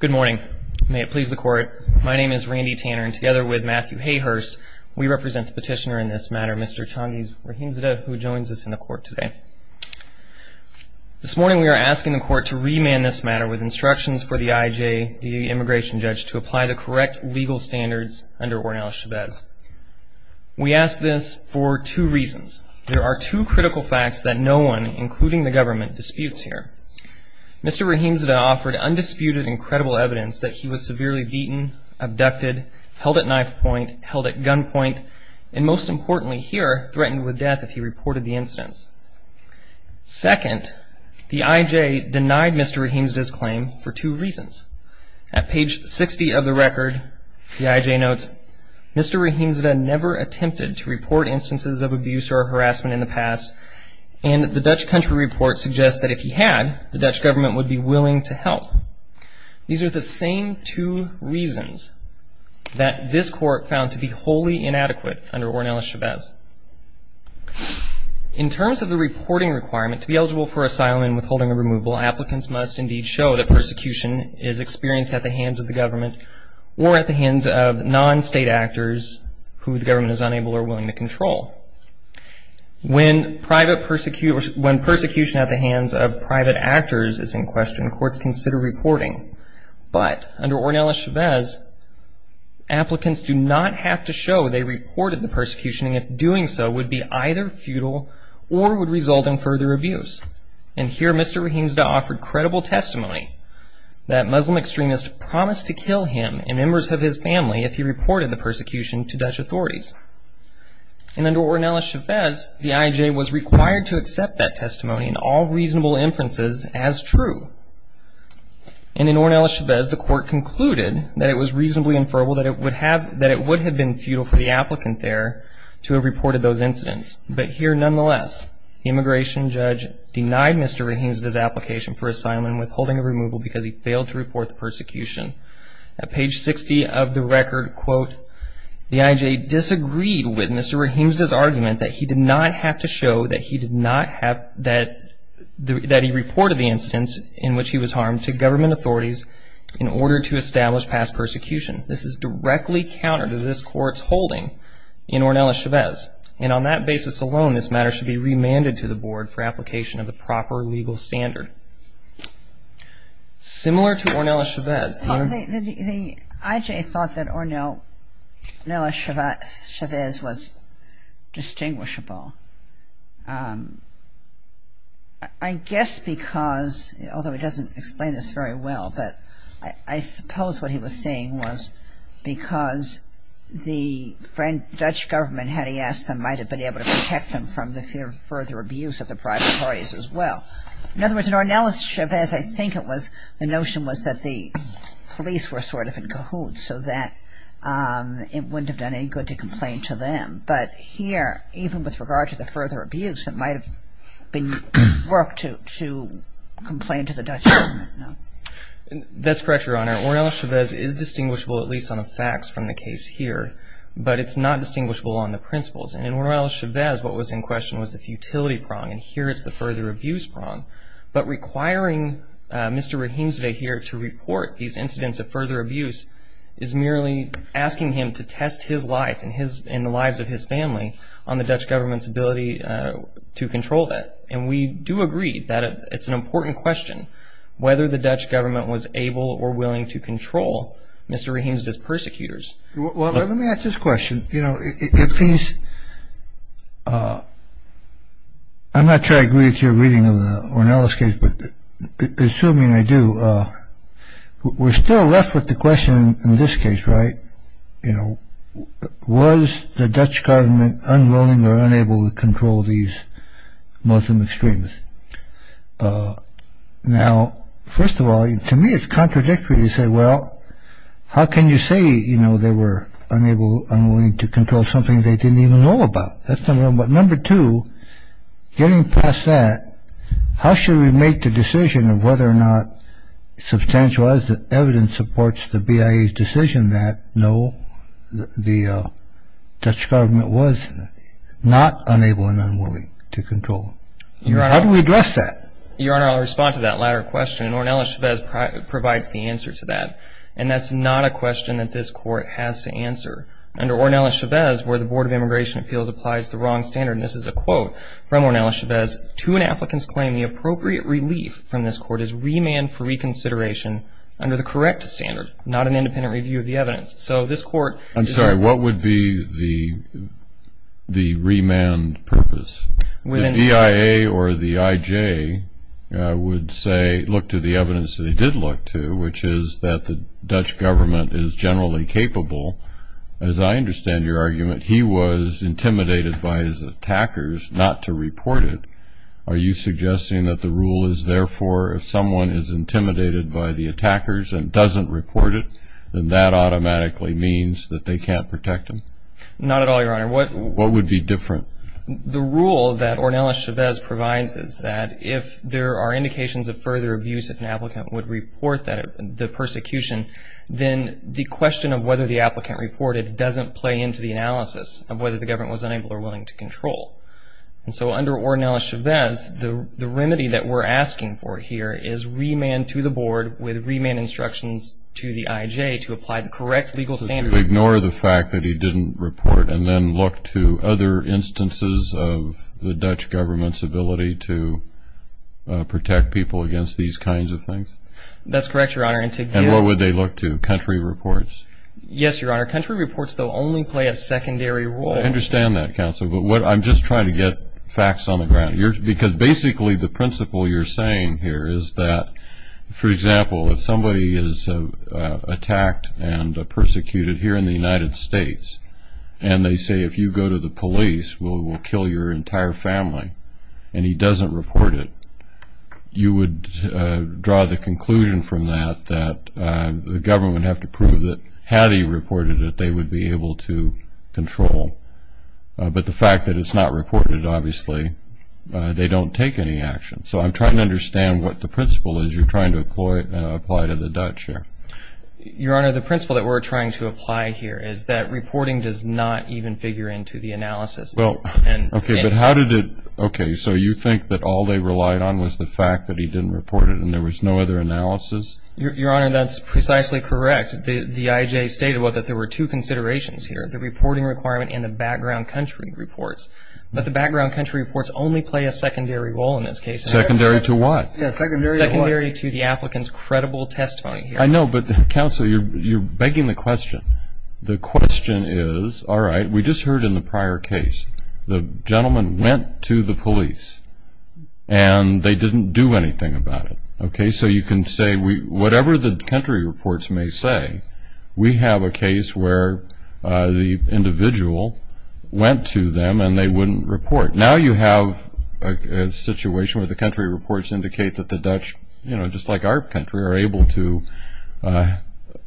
Good morning. May it please the court, my name is Randy Tanner and together with Matthew Hayhurst, we represent the petitioner in this matter, Mr. Candiz Rahimzadeh, who joins us in the court today. This morning we are asking the court to remand this matter with instructions for the IJ, the immigration judge, to apply the correct legal standards under Ornel Chavez. We ask this for two reasons. There are two critical facts that no one, including the government, disputes here. Mr. Rahimzadeh offered undisputed and credible evidence that he was severely beaten, abducted, held at knife point, held at gunpoint, and most importantly here, threatened with death if he reported the incidents. Second, the IJ denied Mr. Rahimzadeh's claim for two reasons. At page 60 of the record, the IJ notes, Mr. Rahimzadeh never attempted to report instances of abuse or harassment in the past, and the Dutch country report suggests that if he had, the Dutch government would be willing to help. These are the same two reasons that this court found to be wholly inadequate under Ornel Chavez. In terms of the reporting requirement, to be eligible for asylum and withholding or removal, applicants must indeed show that persecution is experienced at the hands of the government or at the hands of non-state actors who the government is unable or willing to control. When persecution at the hands of private actors is in question, courts consider reporting. But under Ornel Chavez, applicants do not have to show they reported the persecution, and if doing so would be either futile or would result in further abuse. And here, Mr. Rahimzadeh offered credible testimony that Muslim extremists promised to kill him and members of his family if he reported the persecution to Dutch authorities. And under Ornel Chavez, the IJ was required to accept that testimony and all reasonable inferences as true. And in Ornel Chavez, the court concluded that it was reasonably inferable that it would have been futile for the applicant there to have reported those incidents. But here, nonetheless, the immigration judge denied Mr. Rahimzadeh's application for asylum and withholding or removal because he failed to report the persecution. At page 60 of the record, quote, the IJ disagreed with Mr. Rahimzadeh's argument that he did not have to show that he reported the incidents in which he was harmed to government authorities in order to establish past persecution. This is directly counter to this court's holding in Ornel Chavez. And on that basis alone, this matter should be remanded to the board for application of the proper legal standard. Similar to Ornel Chavez. The IJ thought that Ornel Chavez was distinguishable. I guess because, although he doesn't explain this very well, but I suppose what he was saying was because the Dutch government, had he asked them, might have been able to protect them from the further abuse of the private authorities as well. In other words, in Ornel Chavez, I think it was the notion was that the police were sort of in cahoots so that it wouldn't have done any good to complain to them. But here, even with regard to the further abuse, it might have been work to complain to the Dutch government. That's correct, Your Honor. Ornel Chavez is distinguishable, at least on the facts from the case here. But it's not distinguishable on the principles. And in Ornel Chavez, what was in question was the futility prong. And here it's the further abuse prong. But requiring Mr. Rahimzadeh here to report these incidents of further abuse is merely asking him to test his life and the lives of his family on the Dutch government's ability to control that. And we do agree that it's an important question whether the Dutch government was able or willing to control Mr. Rahimzadeh's persecutors. Well, let me ask this question. I'm not sure I agree with your reading of Ornel's case, but assuming I do, we're still left with the question in this case, right? You know, was the Dutch government unwilling or unable to control these Muslim extremists? Now, first of all, to me it's contradictory to say, well, how can you say, you know, they were unable, unwilling to control something they didn't even know about? That's number one. But number two, getting past that, how should we make the decision of whether or not substantial as the evidence supports the BIA's decision that no, the Dutch government was not unable and unwilling to control? How do we address that? Your Honor, I'll respond to that latter question, and Ornel Chavez provides the answer to that. And that's not a question that this Court has to answer. Under Ornel Chavez, where the Board of Immigration Appeals applies the wrong standard, and this is a quote from Ornel Chavez, to an applicant's claim the appropriate relief from this Court is remand for reconsideration under the correct standard, not an independent review of the evidence. So this Court — I'm sorry, what would be the remand purpose? The BIA or the IJ would say, look to the evidence that they did look to, which is that the Dutch government is generally capable. As I understand your argument, he was intimidated by his attackers not to report it. Are you suggesting that the rule is, therefore, if someone is intimidated by the attackers and doesn't report it, then that automatically means that they can't protect him? Not at all, Your Honor. What — What would be different? Well, the rule that Ornel Chavez provides is that if there are indications of further abuse if an applicant would report the persecution, then the question of whether the applicant reported doesn't play into the analysis of whether the government was unable or willing to control. And so under Ornel Chavez, the remedy that we're asking for here is remand to the Board with remand instructions to the IJ to apply the correct legal standard. To ignore the fact that he didn't report and then look to other instances of the Dutch government's ability to protect people against these kinds of things? That's correct, Your Honor. And what would they look to, country reports? Yes, Your Honor. Country reports, though, only play a secondary role. I understand that, Counselor. Because basically the principle you're saying here is that, for example, if somebody is attacked and persecuted here in the United States, and they say if you go to the police, we'll kill your entire family, and he doesn't report it, you would draw the conclusion from that that the government would have to prove that had he reported it, they would be able to control. But the fact that it's not reported, obviously, they don't take any action. So I'm trying to understand what the principle is you're trying to apply to the Dutch here. Your Honor, the principle that we're trying to apply here is that reporting does not even figure into the analysis. Well, okay, but how did it? Okay, so you think that all they relied on was the fact that he didn't report it and there was no other analysis? Your Honor, that's precisely correct. The IJ stated that there were two considerations here, the reporting requirement and the background country reports. But the background country reports only play a secondary role in this case. Secondary to what? Yes, secondary to what? Secondary to the applicant's credible testimony. I know, but, Counselor, you're begging the question. The question is, all right, we just heard in the prior case the gentleman went to the police and they didn't do anything about it. Okay, so you can say whatever the country reports may say, we have a case where the individual went to them and they wouldn't report. Now you have a situation where the country reports indicate that the Dutch, just like our country, are able to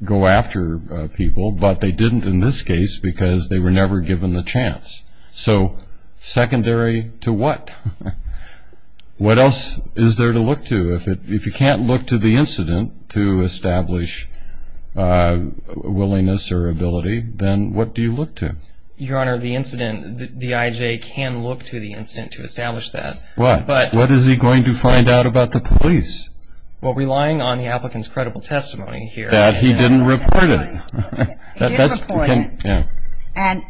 go after people, but they didn't in this case because they were never given the chance. So secondary to what? What else is there to look to? If you can't look to the incident to establish willingness or ability, then what do you look to? Your Honor, the incident, the IJ can look to the incident to establish that. What? What is he going to find out about the police? Well, relying on the applicant's credible testimony here. That he didn't report it. He did report it.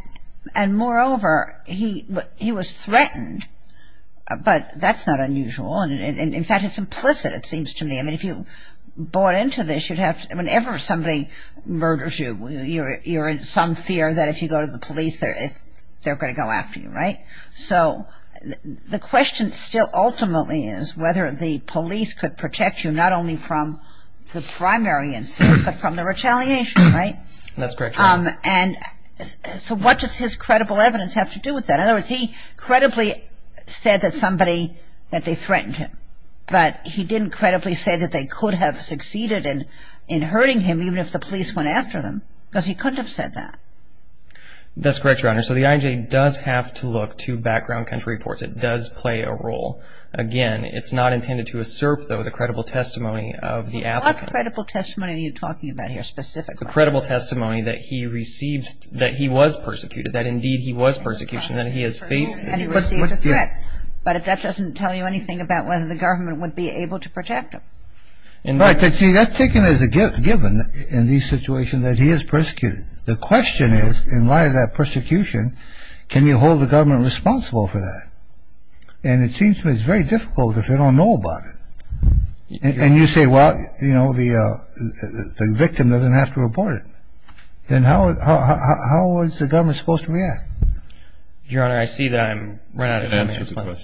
And moreover, he was threatened, but that's not unusual. In fact, it's implicit, it seems to me. I mean, if you bought into this, whenever somebody murders you, you're in some fear that if you go to the police, they're going to go after you, right? So the question still ultimately is whether the police could protect you not only from the primary incident, but from the retaliation, right? That's correct, Your Honor. And so what does his credible evidence have to do with that? In other words, he credibly said that somebody, that they threatened him, but he didn't credibly say that they could have succeeded in hurting him even if the police went after them because he couldn't have said that. That's correct, Your Honor. So the IJ does have to look to background country reports. It does play a role. Again, it's not intended to assert, though, the credible testimony of the applicant. What credible testimony are you talking about here specifically? A credible testimony that he received, that he was persecuted, that indeed he was persecuted, and he has faced this. But that doesn't tell you anything about whether the government would be able to protect him. Right. See, that's taken as a given in these situations that he is persecuted. The question is, in light of that persecution, can you hold the government responsible for that? And it seems to me it's very difficult if they don't know about it. And you say, well, you know, the victim doesn't have to report it. Then how is the government supposed to react? Your Honor, I see that I'm running out of time.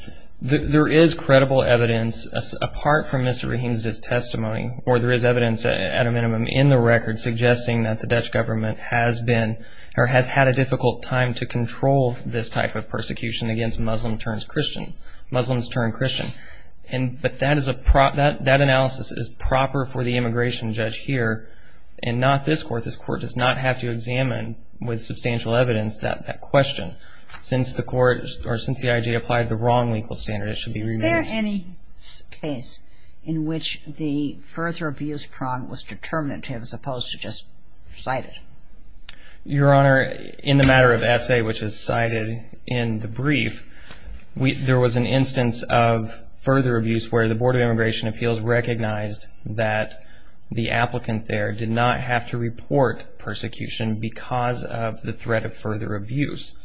There is credible evidence, apart from Mr. Rahim's testimony, or there is evidence at a minimum in the record suggesting that the Dutch government has been or has had a difficult time to control this type of persecution against Muslim-turned-Christian, Muslims-turned-Christian. But that analysis is proper for the immigration judge here, and not this court. This court does not have to examine with substantial evidence that question. Since the court or since the IG applied the wrong legal standard, it should be removed. Is there any case in which the further abuse prong was determinative as opposed to just cited? Your Honor, in the matter of essay, which is cited in the brief, there was an instance of further abuse where the Board of Immigration Appeals recognized that the applicant there did not have to report persecution because of the threat of further abuse.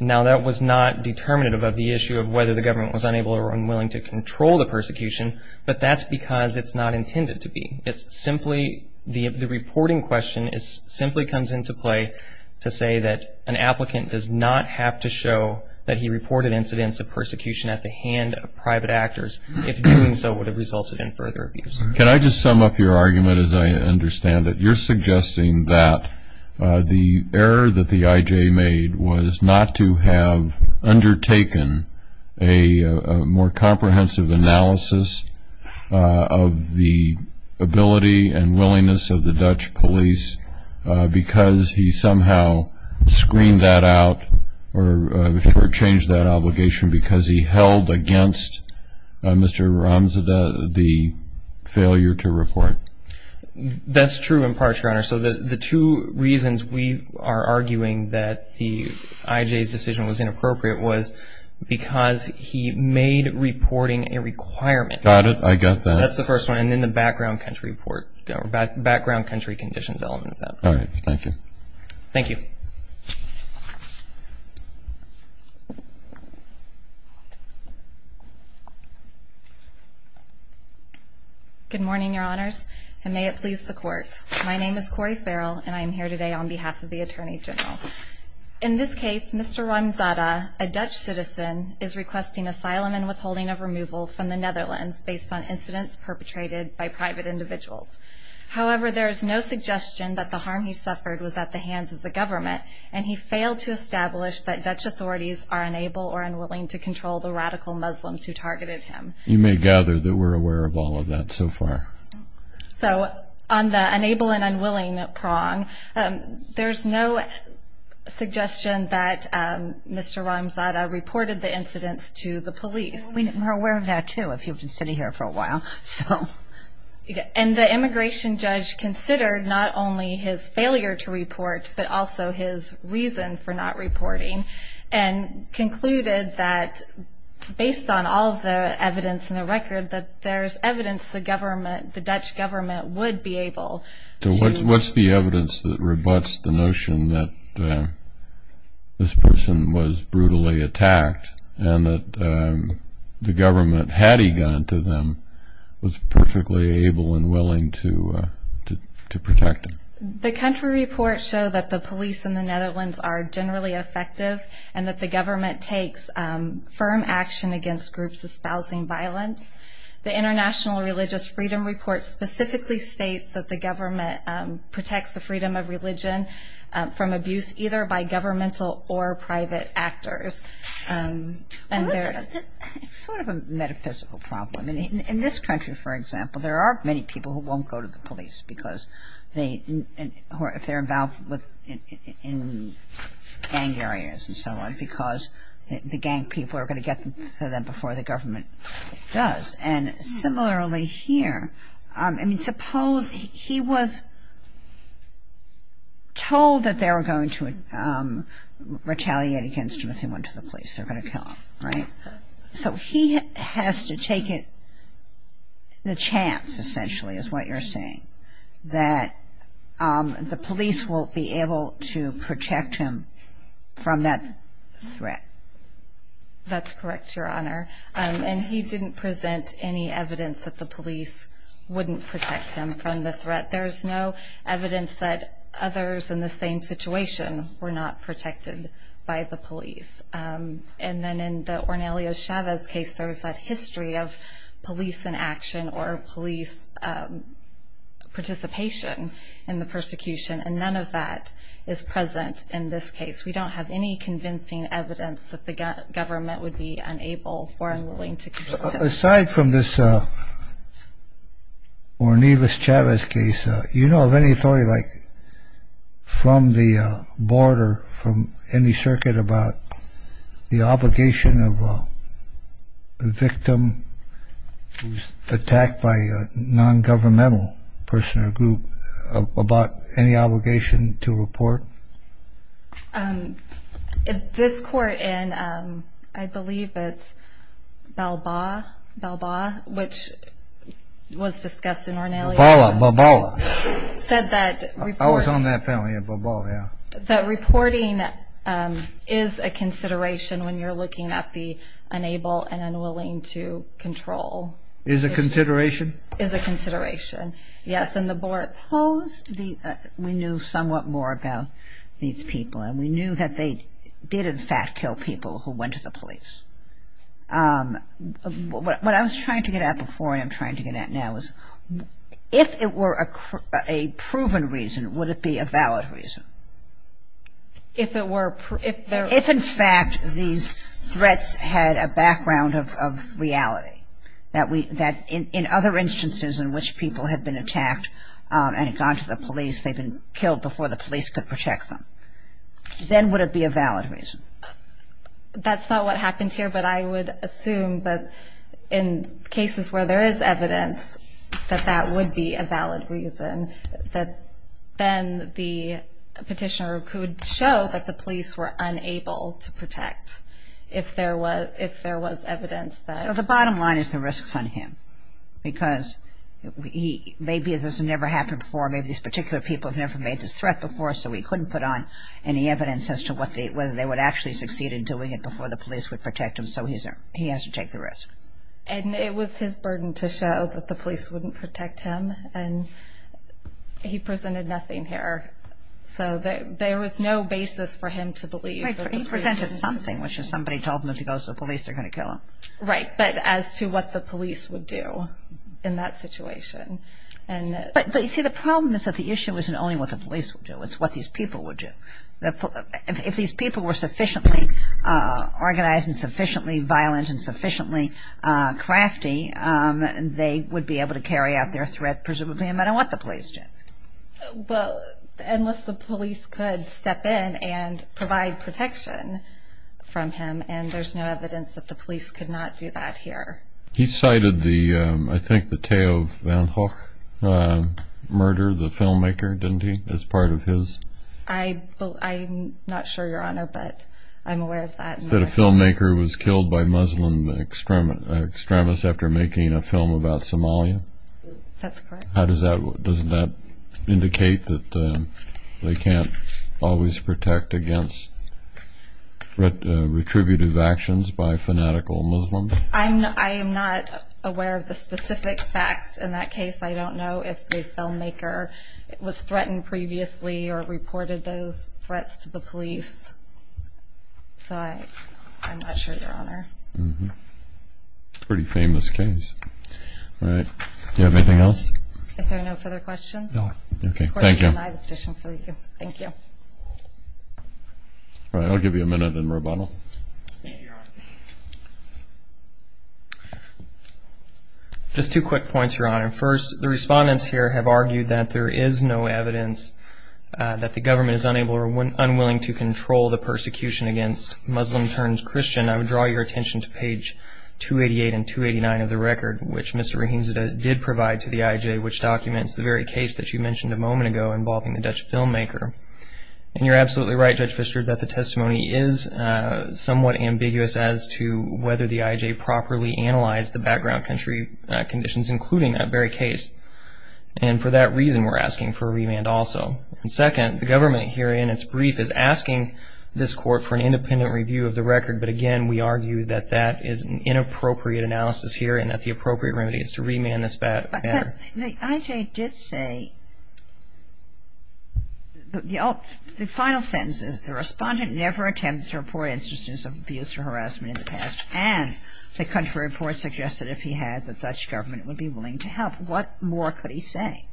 Now, that was not determinative of the issue of whether the government was unable or unwilling to control the persecution, but that's because it's not intended to be. It's simply the reporting question simply comes into play to say that an applicant does not have to show that he reported incidents of persecution at the hand of private actors, if doing so would have resulted in further abuse. Can I just sum up your argument as I understand it? You're suggesting that the error that the I.J. made was not to have undertaken a more comprehensive analysis of the ability and willingness of the Dutch police because he somehow screened that out or changed that obligation because he held against Mr. Ramzada the failure to report? That's true in part, Your Honor. So the two reasons we are arguing that the I.J.'s decision was inappropriate was because he made reporting a requirement. Got it. I got that. That's the first one, and then the background country report, or background country conditions element of that. All right. Thank you. Thank you. Good morning, Your Honors, and may it please the Court. My name is Cori Farrell, and I am here today on behalf of the Attorney General. In this case, Mr. Ramzada, a Dutch citizen, is requesting asylum and withholding of removal from the Netherlands based on incidents perpetrated by private individuals. However, there is no suggestion that the harm he suffered was at the hands of the government, and he failed to establish that Dutch authorities are unable or unwilling to control the radical Muslims who targeted him. You may gather that we're aware of all of that so far. So on the unable and unwilling prong, there's no suggestion that Mr. Ramzada reported the incidents to the police. We're aware of that, too, if you've been sitting here for a while. And the immigration judge considered not only his failure to report, but also his reason for not reporting, and concluded that based on all of the evidence in the record, that there's evidence the Dutch government would be able to... What's the evidence that rebuts the notion that this person was brutally attacked and that the government, had he gone to them, was perfectly able and willing to protect him? The country reports show that the police in the Netherlands are generally effective and that the government takes firm action against groups espousing violence. The International Religious Freedom Report specifically states that the government protects the freedom of religion from abuse either by governmental or private actors. It's sort of a metaphysical problem. In this country, for example, there are many people who won't go to the police if they're involved in gang areas and so on, because the gang people are going to get to them before the government does. And similarly here, I mean, suppose he was told that they were going to retaliate against him if he went to the police, they're going to kill him, right? So he has to take the chance, essentially, is what you're saying, that the police will be able to protect him from that threat. That's correct, Your Honor. And he didn't present any evidence that the police wouldn't protect him from the threat. There's no evidence that others in the same situation were not protected by the police. And then in the Ornelio Chavez case, there was that history of police inaction or police participation in the persecution, and none of that is present in this case. We don't have any convincing evidence that the government would be unable or unwilling to protect him. Aside from this Ornelio Chavez case, do you know of any authority from the board or from any circuit about the obligation of a victim who's attacked by a nongovernmental person or group about any obligation to report? This court in, I believe it's Balboa, Balboa, which was discussed in Ornelio. Balboa, Balboa. Said that reporting... I was on that panel, yeah, Balboa, yeah. That reporting is a consideration when you're looking at the unable and unwilling to control. Is a consideration? Is a consideration, yes. And the board opposed the, we knew somewhat more about these people, and we knew that they did, in fact, kill people who went to the police. What I was trying to get at before and I'm trying to get at now is if it were a proven reason, would it be a valid reason? If it were, if there... If, in fact, these threats had a background of reality, that in other instances in which people had been attacked and had gone to the police, they'd been killed before the police could protect them, then would it be a valid reason? That's not what happened here, but I would assume that in cases where there is evidence that that would be a valid reason, that then the petitioner could show that the police were unable to protect if there was evidence that... So the bottom line is the risk's on him because maybe this has never happened before. Maybe these particular people have never made this threat before, so he couldn't put on any evidence as to whether they would actually succeed in doing it before the police would protect him, so he has to take the risk. And it was his burden to show that the police wouldn't protect him, and he presented nothing here. So there was no basis for him to believe that the police... He presented something, which is somebody told him if he goes to the police, they're going to kill him. Right, but as to what the police would do in that situation. But, you see, the problem is that the issue isn't only what the police would do, it's what these people would do. If these people were sufficiently organized and sufficiently violent and sufficiently crafty, they would be able to carry out their threat, presumably, no matter what the police did. Well, unless the police could step in and provide protection from him, and there's no evidence that the police could not do that here. He cited, I think, the Theo van Gogh murder, the filmmaker, didn't he, as part of his... I'm not sure, Your Honor, but I'm aware of that. He said a filmmaker was killed by Muslim extremists after making a film about Somalia. That's correct. Doesn't that indicate that they can't always protect against retributive actions by fanatical Muslims? I am not aware of the specific facts in that case. I don't know if the filmmaker was threatened previously or reported those threats to the police. So I'm not sure, Your Honor. Pretty famous case. All right. Do you have anything else? Is there no further questions? Okay. Thank you. Of course, he denied the petition for you. Thank you. All right. I'll give you a minute in rebuttal. Thank you, Your Honor. Just two quick points, Your Honor. First, the respondents here have argued that there is no evidence that the government is unwilling to control the persecution against Muslim-turned-Christian. I would draw your attention to page 288 and 289 of the record, which Mr. Rahimzadeh did provide to the IJ, which documents the very case that you mentioned a moment ago involving the Dutch filmmaker. And you're absolutely right, Judge Pfister, that the testimony is somewhat ambiguous as to whether the IJ properly analyzed the background conditions, including that very case. And for that reason, we're asking for a remand also. Second, the government here in its brief is asking this court for an independent review of the record. But, again, we argue that that is an inappropriate analysis here and that the appropriate remedy is to remand this matter. But the IJ did say, the final sentence is, the respondent never attempted to report instances of abuse or harassment in the past, and the country report suggested if he had, the Dutch government would be willing to help. What more could he say?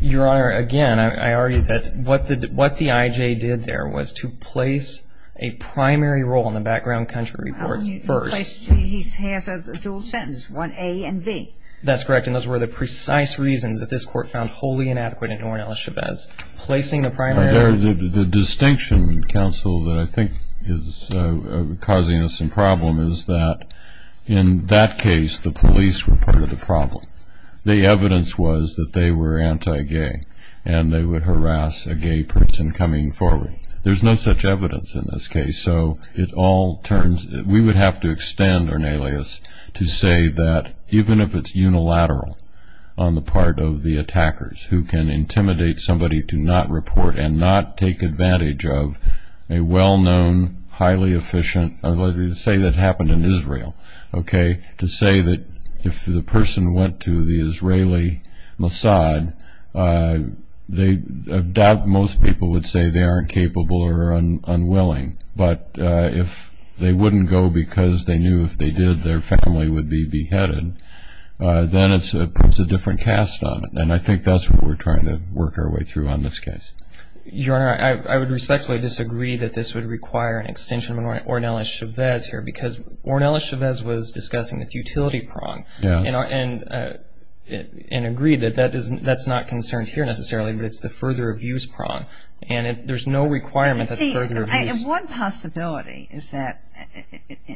Your Honor, again, I argue that what the IJ did there was to place a primary role, based on the background country reports, first. He has a dual sentence, one A and B. That's correct, and those were the precise reasons that this court found wholly inadequate in ignoring Alice Chavez. Placing a primary role. The distinction, counsel, that I think is causing us some problem is that in that case, the police were part of the problem. The evidence was that they were anti-gay and they would harass a gay person coming forward. There's no such evidence in this case. So it all turns, we would have to extend an alias to say that, even if it's unilateral on the part of the attackers who can intimidate somebody to not report and not take advantage of a well-known, highly efficient, let's say that happened in Israel, okay, to say that if the person went to the Israeli Mossad, I doubt most people would say they aren't capable or unwilling, but if they wouldn't go because they knew if they did their family would be beheaded, then it puts a different cast on it, and I think that's what we're trying to work our way through on this case. Your Honor, I would respectfully disagree that this would require an extension of Ornelas Chavez here, because Ornelas Chavez was discussing the futility prong and agreed that that's not concerned here necessarily, but it's the further abuse prong, and there's no requirement that further abuse. See, one possibility is that,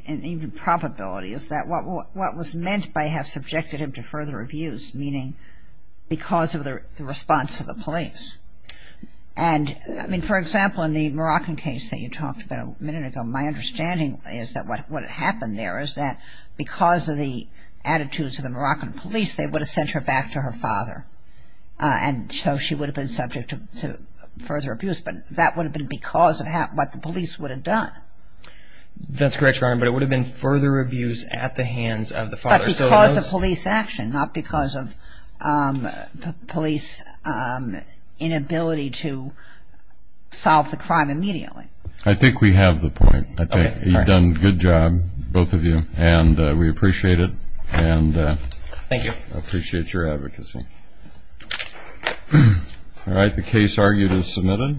and even probability, is that what was meant by have subjected him to further abuse, meaning because of the response of the police, and I mean, for example, in the Moroccan case that you talked about a minute ago, my understanding is that what happened there is that because of the attitudes of the Moroccan police, they would have sent her back to her father, and so she would have been subject to further abuse, but that would have been because of what the police would have done. That's correct, Your Honor, but it would have been further abuse at the hands of the father. But because of police action, not because of police inability to solve the crime immediately. I think we have the point. You've done a good job, both of you, and we appreciate it. Thank you. I appreciate your advocacy. All right, the case argued is submitted.